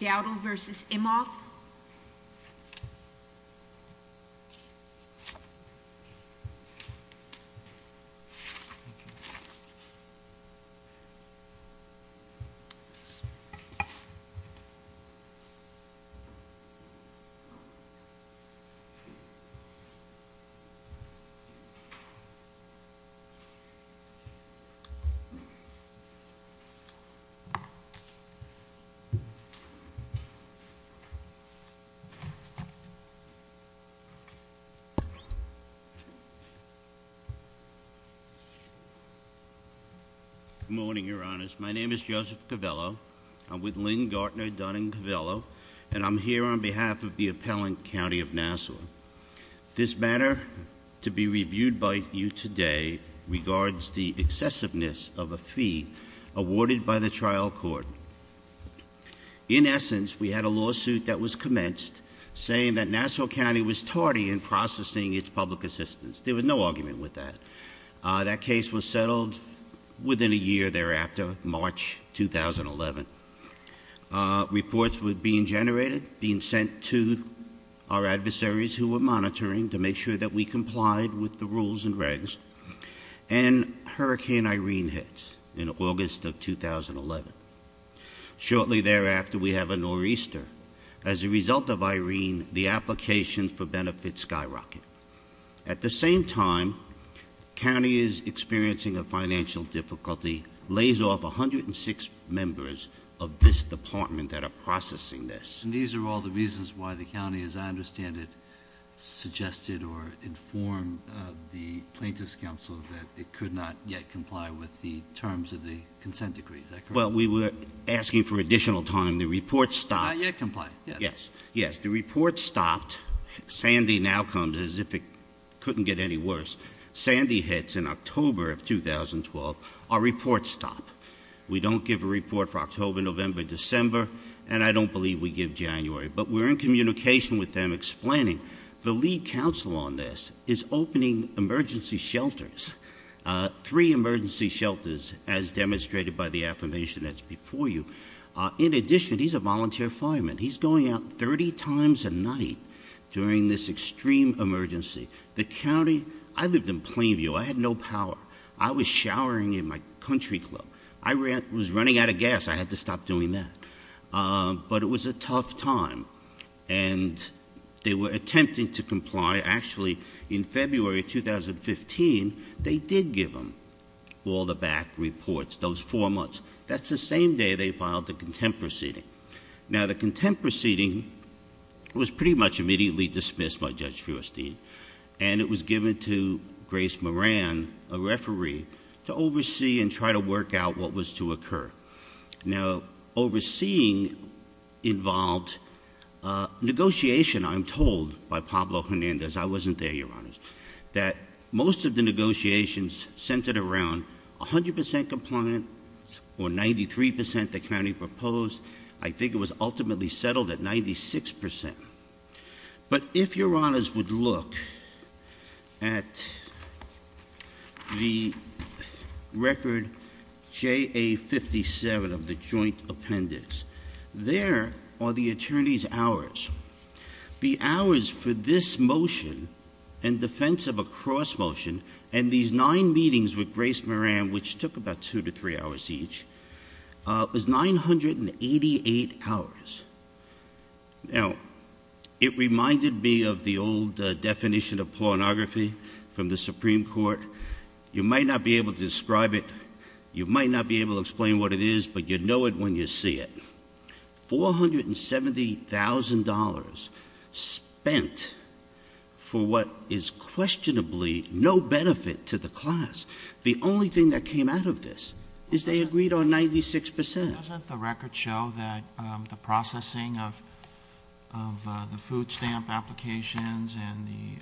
Dowdell v. Imhof Good morning, your honors. My name is Joseph Covello. I'm with Lynn Gartner Dunning Covello and I'm here on behalf of the appellant county of Nassau. This matter to be reviewed by you today regards the excessiveness of a fee awarded by the trial court. In essence, we had a lawsuit that was commenced saying that Nassau County was tardy in processing its public assistance. There was no argument with that. That case was settled within a year thereafter, March 2011. Reports were being generated, being sent to our adversaries who were monitoring to make sure that we complied with the rules and regs, and Hurricane Irene hit in August of 2011. Shortly thereafter, we have a nor'easter. As a result of Irene, the applications for benefits skyrocket. At the same time, county is experiencing a financial difficulty, lays off 106 members of this department that are processing this. These are all the reasons why the county, as I understand it, suggested or informed the plaintiff's counsel that it could not yet comply with the terms of the consent decree. Is that correct? Well, we were asking for additional time. The report stopped. Not yet complied. Yes. Yes. The report stopped. Sandy now comes as if it couldn't get any worse. Sandy hits in October of 2012. Our reports stop. We don't give a report for October, November, December, and I don't believe we give January, but we're in communication with them explaining the lead counsel on this is opening emergency shelters, three emergency shelters, as demonstrated by the affirmation that's before you. In addition, he's a volunteer fireman. He's going out 30 times a night during this extreme emergency. The county, I lived in Plainview. I had no power. I was showering in my country club. I was running out of gas. I had to stop doing that. But it was a tough time, and they were attempting to comply. Actually, in February of 2015, they did give him all the back reports, those four months. That's the same day they filed the contempt proceeding. Now, the contempt proceeding was pretty much immediately dismissed by Judge Feuerstein, and it was given to Grace Moran, a referee, to oversee and try to work out what was to occur. Now, overseeing involved negotiation, I'm told, by Pablo Hernandez. I wasn't there, Your Honors. That most of the negotiations centered around 100 percent compliance or 93 percent the county proposed. I think it was ultimately settled at 96 percent. But if Your Honors would look at the record JA57 of the joint appendix, there are the attorneys' hours. The hours for this motion, in defense of a cross motion, and these nine meetings with Grace Moran, which took about two to three hours each, was 988 hours. Now, it reminded me of the old definition of pornography from the Supreme Court. You might not be able to describe it. You might not be able to explain what it is, but you know it when you see it. $470,000 spent for what is questionably no benefit to the class. The only thing that came out of this is they agreed on 96 percent. Doesn't the record show that the processing of the food stamp applications and the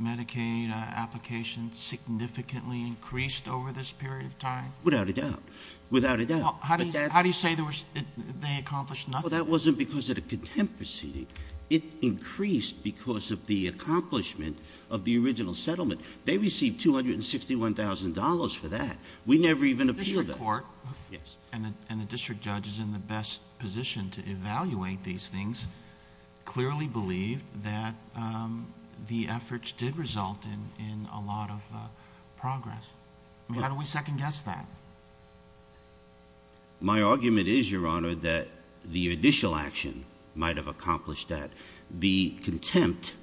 Medicaid applications significantly increased over this period of time? Without a doubt. Without a doubt. How do you say they accomplished nothing? Well, that wasn't because of the contempt proceeding. It increased because of the accomplishment of the original settlement. They received $261,000 for that. We never even appealed that. The district court, and the district judge is in the best position to evaluate these things, clearly believed that the efforts did result in a lot of progress. How do we guess that? My argument is, Your Honor, that the initial action might have accomplished that. The contempt,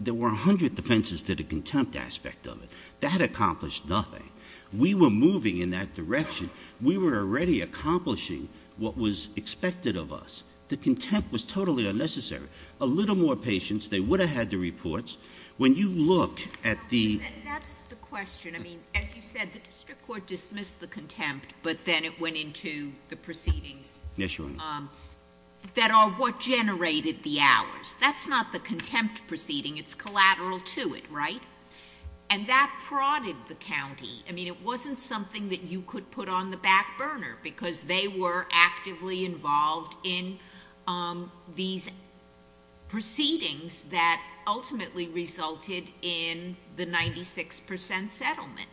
there were 100 defenses to the contempt aspect of it. That accomplished nothing. We were moving in that direction. We were already accomplishing what was expected of us. The contempt was totally unnecessary. A little more patience, they would have had the reports. When you look at the— The district court dismissed the contempt, but then it went into the proceedings. Yes, Your Honor. That are what generated the hours. That's not the contempt proceeding. It's collateral to it, right? That prodded the county. It wasn't something that you could put on the back burner because they were actively involved in these proceedings that ultimately resulted in the 96% settlement.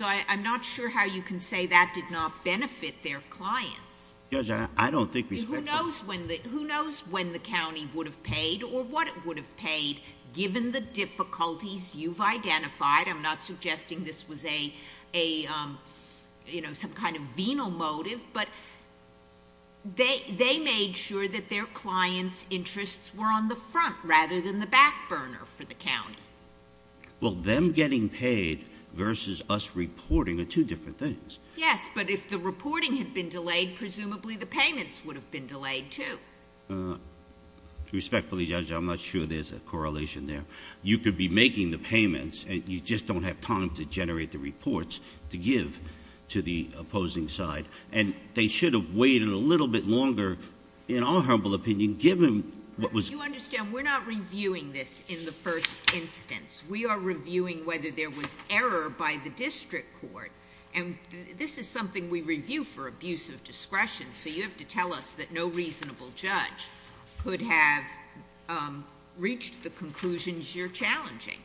I'm not sure how you can say that did not benefit their clients. Judge, I don't think we spent— Who knows when the county would have paid or what it would have paid given the difficulties you've identified. I'm not suggesting this was some kind of venal motive, but they made sure that their clients' interests were on the front rather than the back burner for the county. Well, them getting paid versus us reporting are two different things. Yes, but if the reporting had been delayed, presumably the payments would have been delayed, too. Respectfully, Judge, I'm not sure there's a correlation there. You could be making the payments and you just don't have time to generate the reports to give to the opposing side. They should have waited a little bit longer, in our humble opinion, given what was— You understand we're not reviewing this in the first instance. We are reviewing whether there was error by the district court. This is something we review for abuse of discretion, so you have to tell us that no reasonable judge could have reached the conclusions you're challenging.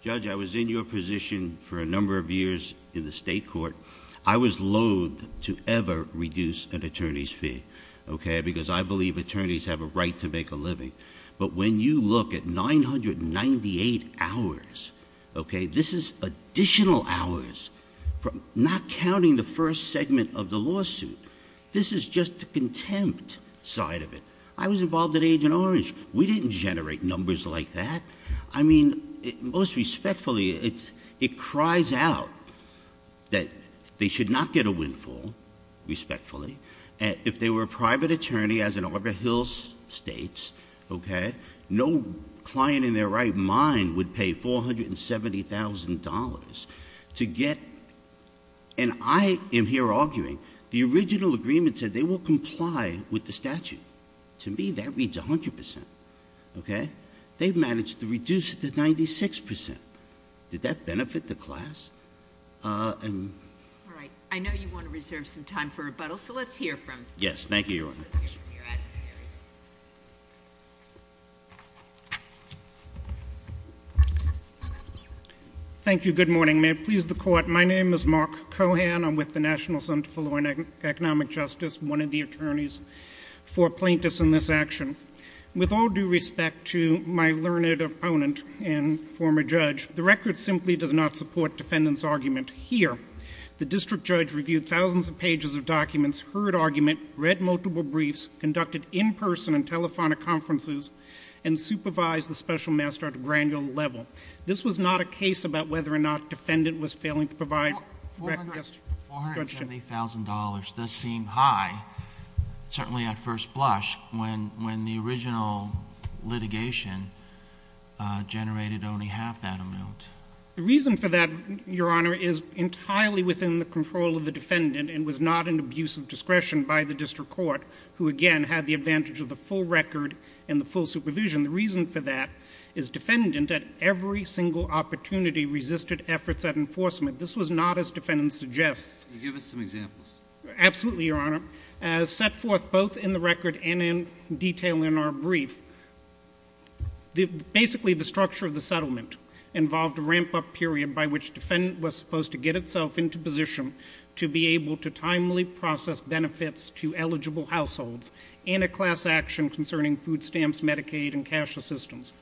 Judge, I was in your position for a number of years in the state court. I was loathed to ever reduce an attorney's fee because I believe attorneys have a right to make a living, but when you look at 998 hours, okay, this is additional hours from not counting the first segment of the lawsuit. This is just the contempt side of it. I was involved at Agent Orange. We didn't generate numbers like that. I mean, most respectfully, it cries out that they should not get a windfall, respectfully, if they were a private attorney, as an Arbor Hills state, okay, no client in their right mind would pay $470,000 to get—and I am here arguing, the original agreement said they will comply with the statute. To me, that means 100%, okay? They've managed to reduce it to 96%. Did that benefit the class? All right. I know you want to reserve some time for rebuttal, so let's hear from— Yes, thank you, Your Honor. Thank you. Good morning. May it please the Court, my name is Mark Cohan. I'm with the National Center for Law and Economic Justice, one of the attorneys for plaintiffs in this action. With all due respect to my learned opponent and former judge, the record simply does not support defendant's argument here. The district judge reviewed thousands of pages of documents, heard argument, read multiple briefs, conducted in-person and telephonic conferences, and supervised the special master at a granular level. This was not a case about whether or not defendant was failing to provide— $470,000 does seem high, certainly at first blush, when the original litigation generated only half that amount. The reason for that, Your Honor, is entirely within the control of the defendant and was not an abuse of discretion by the district court, who again had the advantage of the full record and the full supervision. The reason for that is defendant at every single opportunity resisted efforts at enforcement. This was not as defendant suggests. Can you give us some examples? Absolutely, Your Honor. As set forth both in the record and in detail in our brief, basically the structure of the settlement involved a ramp-up period by which defendant was supposed to get itself into position to be able to timely process benefits to eligible households and a class action concerning food stamps, Medicaid, and cash assistance.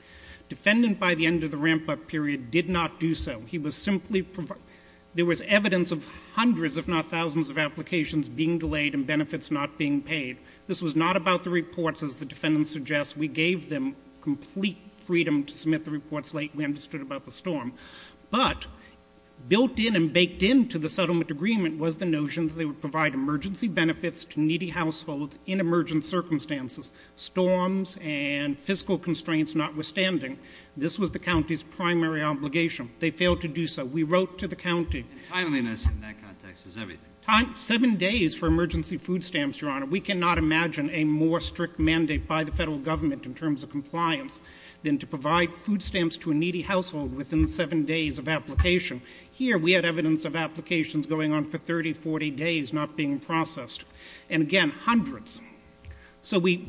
Defendant by the end of the ramp-up period did not do so. He was simply—there was evidence of hundreds, if not thousands, of applications being delayed and benefits not being paid. This was not about the reports, as the defendant suggests. We gave them complete freedom to built in and baked into the settlement agreement was the notion that they would provide emergency benefits to needy households in emergent circumstances, storms and fiscal constraints notwithstanding. This was the county's primary obligation. They failed to do so. We wrote to the county— Timeliness in that context is everything. Seven days for emergency food stamps, Your Honor. We cannot imagine a more strict mandate by the federal government in terms of compliance than to provide food stamps to a needy household within seven days of application. Here, we had evidence of applications going on for 30, 40 days not being processed. And again, hundreds. So we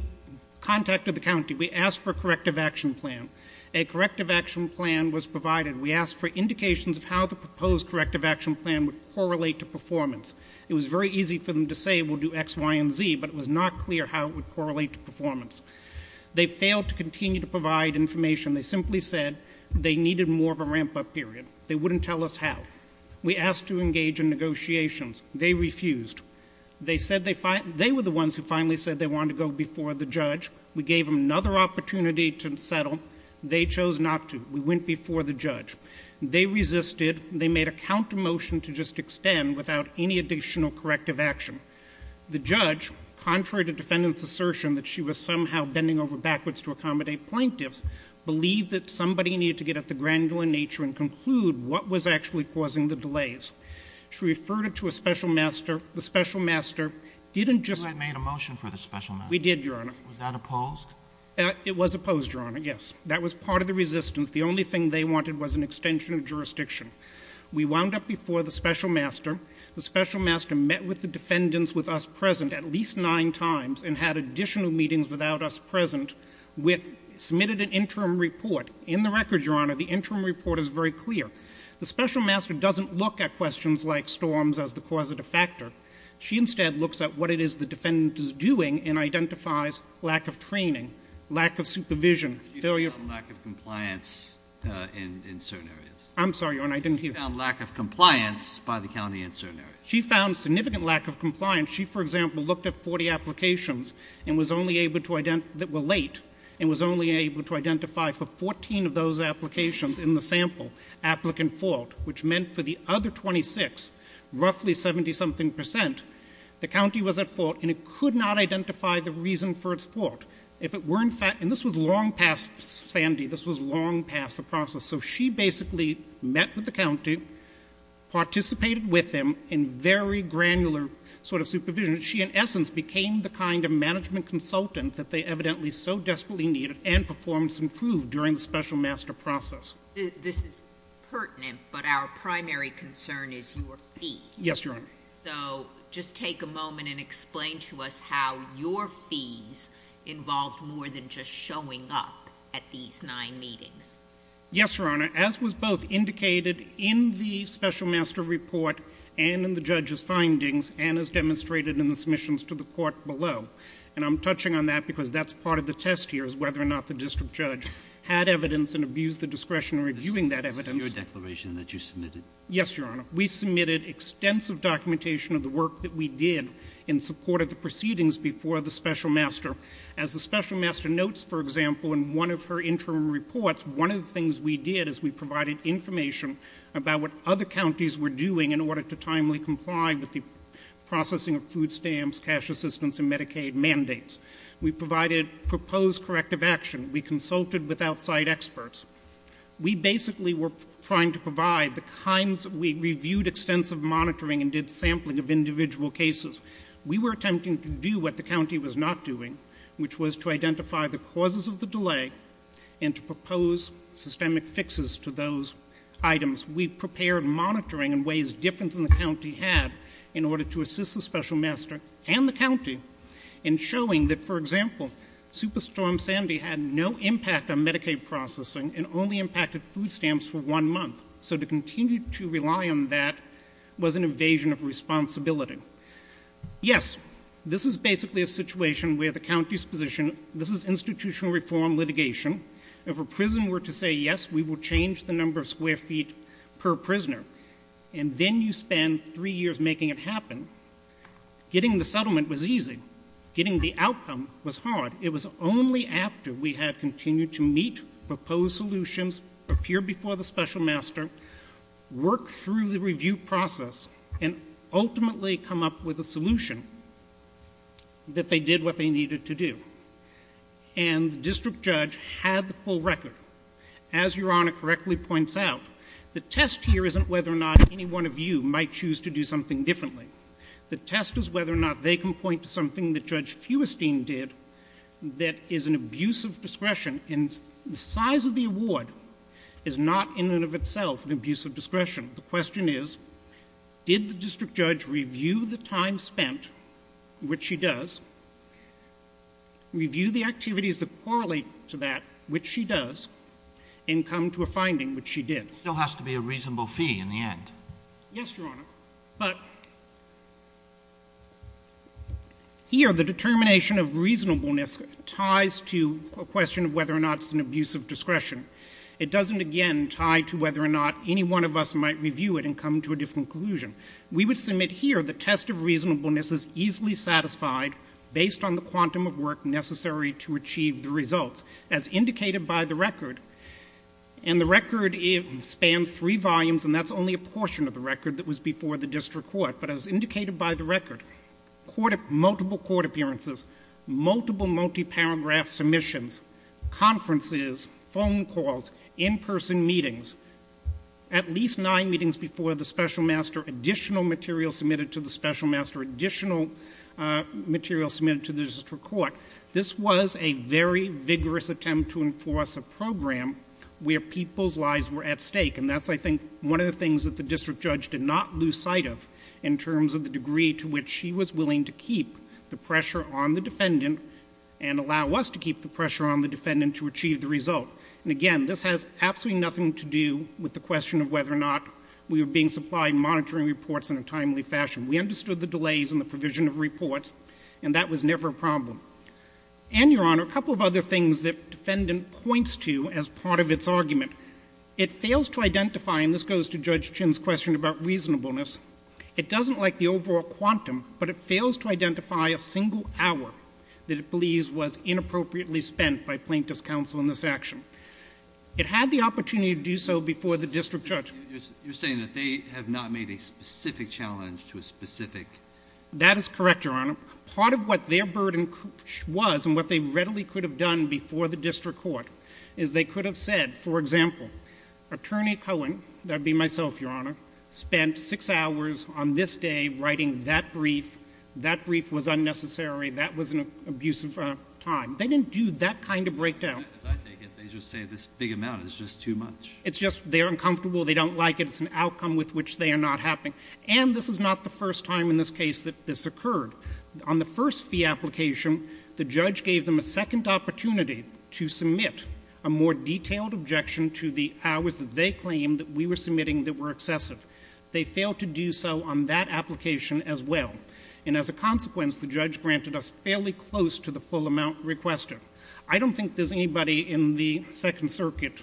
contacted the county. We asked for a corrective action plan. A corrective action plan was provided. We asked for indications of how the proposed corrective action plan would correlate to performance. It was very easy for them to say we'll do X, Y, and Z, but it was not clear how it would correlate to performance. They failed to continue to provide information. They simply said they needed more of a ramp-up period. They wouldn't tell us how. We asked to engage in negotiations. They refused. They said they were the ones who finally said they wanted to go before the judge. We gave them another opportunity to settle. They chose not to. We went before the judge. They resisted. They made a counter motion to just extend without any additional corrective action. The judge, contrary to defendant's assertion that she was somehow bending over backwards to accommodate plaintiffs, believed that somebody needed to get at the granular nature and conclude what was actually causing the delays. She referred it to a special master. The special master didn't just... You had made a motion for the special master. We did, Your Honor. Was that opposed? It was opposed, Your Honor, yes. That was part of the resistance. The only thing they wanted was an extension of jurisdiction. We wound up before the special master. The special master met with the defendants with us present at least nine times and had additional meetings without us present, submitted an interim report. In the record, Your Honor, the interim report is very clear. The special master doesn't look at questions like storms as the cause of de facto. She instead looks at what it is the defendant is doing and identifies lack of training, lack of supervision, failure... She found lack of compliance in certain areas. I'm sorry, Your Honor. I didn't hear. She found lack of compliance by the county in certain areas. She found significant lack of compliance. She, for example, looked at 40 applications that were late and was only able to identify for 14 of those applications in the sample applicant fault, which meant for the other 26, roughly 70-something percent, the county was at fault, and it could not identify the reason for its fault. If it were in fact... And this was long past Sandy. This was long past the process. So she basically met with the county, participated with them in very granular sort of supervision. She, in essence, became the kind of management consultant that they evidently so desperately needed and performance improved during the special master process. This is pertinent, but our primary concern is your fees. Yes, Your Honor. So just take a moment and explain to us how your fees involved more than just showing up at these nine meetings. Yes, Your Honor. As was both indicated in the special master report and in the judge's findings and as demonstrated in the submissions to the court below. And I'm touching on that because that's part of the test here is whether or not the district judge had evidence and abused the discretion in reviewing that evidence. This is your declaration that you submitted? Yes, Your Honor. We submitted extensive documentation of the work that we did in support of the proceedings before the special master. As the special master notes, for example, in one of her interim reports, one of the things we did is we provided information about what other counties were doing in order to timely comply with the processing of food stamps, cash assistance, and Medicaid mandates. We provided proposed corrective action. We consulted with outside experts. We basically were trying to provide the kinds of, we reviewed extensive monitoring and did sampling of individual cases. We were attempting to do what the county was not doing, which was to identify the causes of the delay and to propose systemic fixes to those items. We prepared monitoring in ways different than the county had in order to assist the special master and the county in showing that, for example, Superstorm Sandy had no impact on Medicaid processing and only impacted food stamps for one month. So to continue to rely on that was an invasion of responsibility. Yes, this is basically a situation where the county's position, this is institutional reform litigation. If a prison were to say, yes, we will change the number of square feet per prisoner, and then you spend three years making it happen, getting the settlement was easy. Getting the outcome was hard. It was only after we had continued to meet proposed solutions, prepare before the special master, work through the review process, and ultimately come up with a solution that they did what they needed to do. And the district judge had the full record. As Your Honor correctly points out, the test here isn't whether or not any one of you might choose to do something differently. The test is whether or not they can point to something that Judge Feuestein did that is an abuse of discretion. And the size of the award is not in and of itself an abuse of discretion. The question is, did the district judge review the time spent, which she does, review the activities that correlate to that, which she does, and come to a finding, which she did? It still has to be a reasonable fee in the end. Yes, Your Honor. But here, the determination of reasonableness ties to a question of whether or not it's an abuse of discretion. It doesn't, again, tie to whether or not any one of us might review it and come to a different conclusion. We would submit here the test of reasonableness is easily satisfied based on the quantum of work necessary to achieve the results, as indicated by the record. And the record spans three volumes, and that's only a portion of the record that was before the district court. But as indicated by the record, multiple court appearances, multiple multi-paragraph submissions, conferences, phone calls, in-person meetings, at least nine meetings before the special master, additional material submitted to the special master, additional material submitted to the district court. This was a very vigorous attempt to enforce a program where people's lives were at stake. And that's, I think, one of the things that the district judge did not lose sight of in terms of the degree to which she was willing to keep the pressure on the defendant and allow us to keep the pressure on the defendant to achieve the result. And again, this has absolutely nothing to do with the question of whether or not we were being supplied monitoring reports in a timely fashion. We understood the delays in the provision of reports, and that was never a problem. And, Your Honor, a couple of other things that defendant points to as part of its argument. It fails to identify, and this goes to Judge Chinn's question about reasonableness, it doesn't like the overall quantum, but it fails to identify a single hour that it believes was inappropriately spent by plaintiff's counsel in this action. It had the opportunity to do so before the district judge. You're saying that they have not made a specific challenge to a specific... That is correct, Your Honor. Part of what their burden was and what they readily could have done before the district court is they could have said, for example, Attorney Cohen, that would be myself, Your Honor, spent six hours on this day writing that brief. That brief was unnecessary. That was an abusive time. They didn't do that kind of breakdown. As I take it, they just say this big amount is just too much. It's just they're uncomfortable. They don't like it. It's an outcome with which they are not happy. And this is not the first time in this case that this occurred. On the first fee application, the judge gave them a second opportunity to submit a more detailed objection to the hours that they claimed that we were submitting that were excessive. They failed to do so on that application as well. And as a consequence, the judge granted us fairly close to the full amount requested. I don't think there's anybody in the Second Circuit,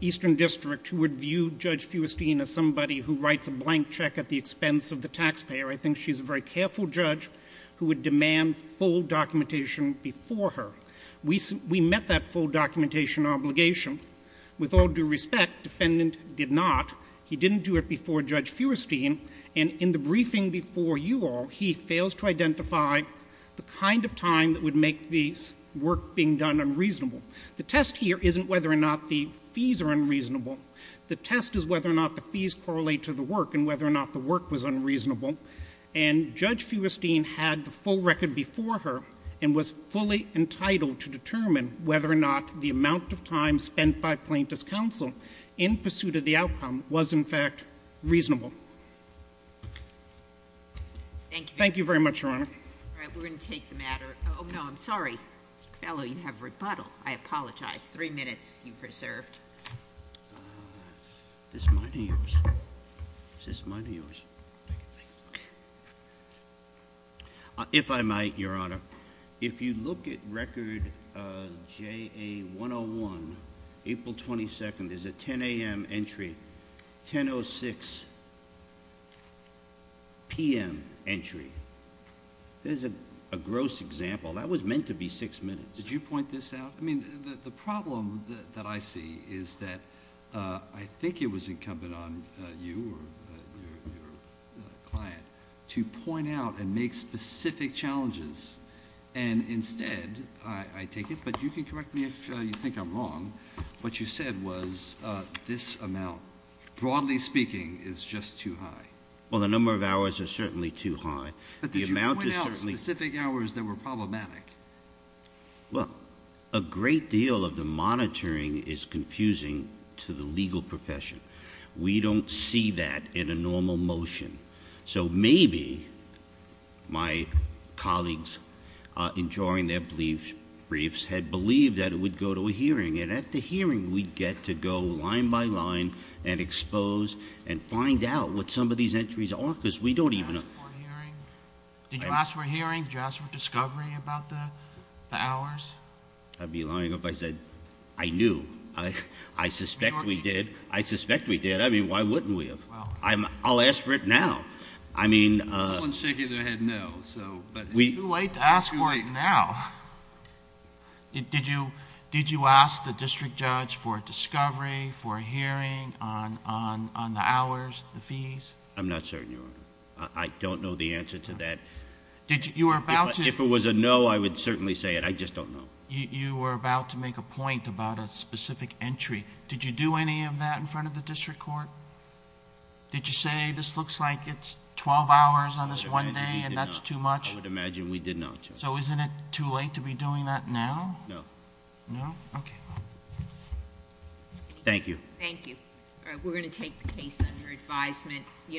Eastern District, who would view Judge Feuerstein as somebody who writes a blank check at the expense of the taxpayer. I think she's a very careful judge who would demand full documentation before her. We met that full documentation obligation. With all due respect, defendant did not. He didn't do it before Judge Feuerstein. And in the briefing before you all, he fails to identify the kind of time that would make the work being done unreasonable. The test here isn't whether or not the fees are unreasonable. The test is whether or not the fees correlate to the work and whether or not the work was and Judge Feuerstein had the full record before her and was fully entitled to determine whether or not the amount of time spent by plaintiff's counsel in pursuit of the outcome was, in fact, reasonable. Thank you. Thank you very much, Your Honor. All right. We're going to take the matter. Oh, no, I'm sorry. Mr. Fellow, you have rebuttal. I apologize. Three minutes you've reserved. Is this mine or yours? Is this mine or yours? If I might, Your Honor, if you look at record JA 101, April 22nd, there's a 10 a.m. entry, 10.06 p.m. entry. There's a gross example. That was meant to be six minutes. Did you point this out? The problem that I see is that I think it was incumbent on you or your client to point out and make specific challenges and instead, I take it, but you can correct me if you think I'm wrong, what you said was this amount, broadly speaking, is just too high. Well, the number of hours is certainly too high. But did you point out specific hours that were problematic? Well, a great deal of the monitoring is confusing to the legal profession. We don't see that in a normal motion. So maybe my colleagues, in drawing their briefs, had believed that it would go to a hearing, and at the hearing, we'd get to go line by line and expose and find out what some of these entries are because we don't even know. Did you ask for a hearing? Did you ask for a hearing? Did you ask for discovery about this? The hours? I'd be lying if I said I knew. I suspect we did. I suspect we did. I mean, why wouldn't we have? I'll ask for it now. I mean... No one's shaking their head no, so... It's too late to ask for it now. Did you ask the district judge for a discovery, for a hearing on the hours, the fees? I'm not certain, Your Honor. I don't know the answer to that. You were about to... If it was a no, I would certainly say it. I just don't know. You were about to make a point about a specific entry. Did you do any of that in front of the district court? Did you say, this looks like it's 12 hours on this one day, and that's too much? I would imagine we did not, Your Honor. So isn't it too late to be doing that now? No. No? Okay. Thank you. Thank you. All right, we're going to take the case under advisement.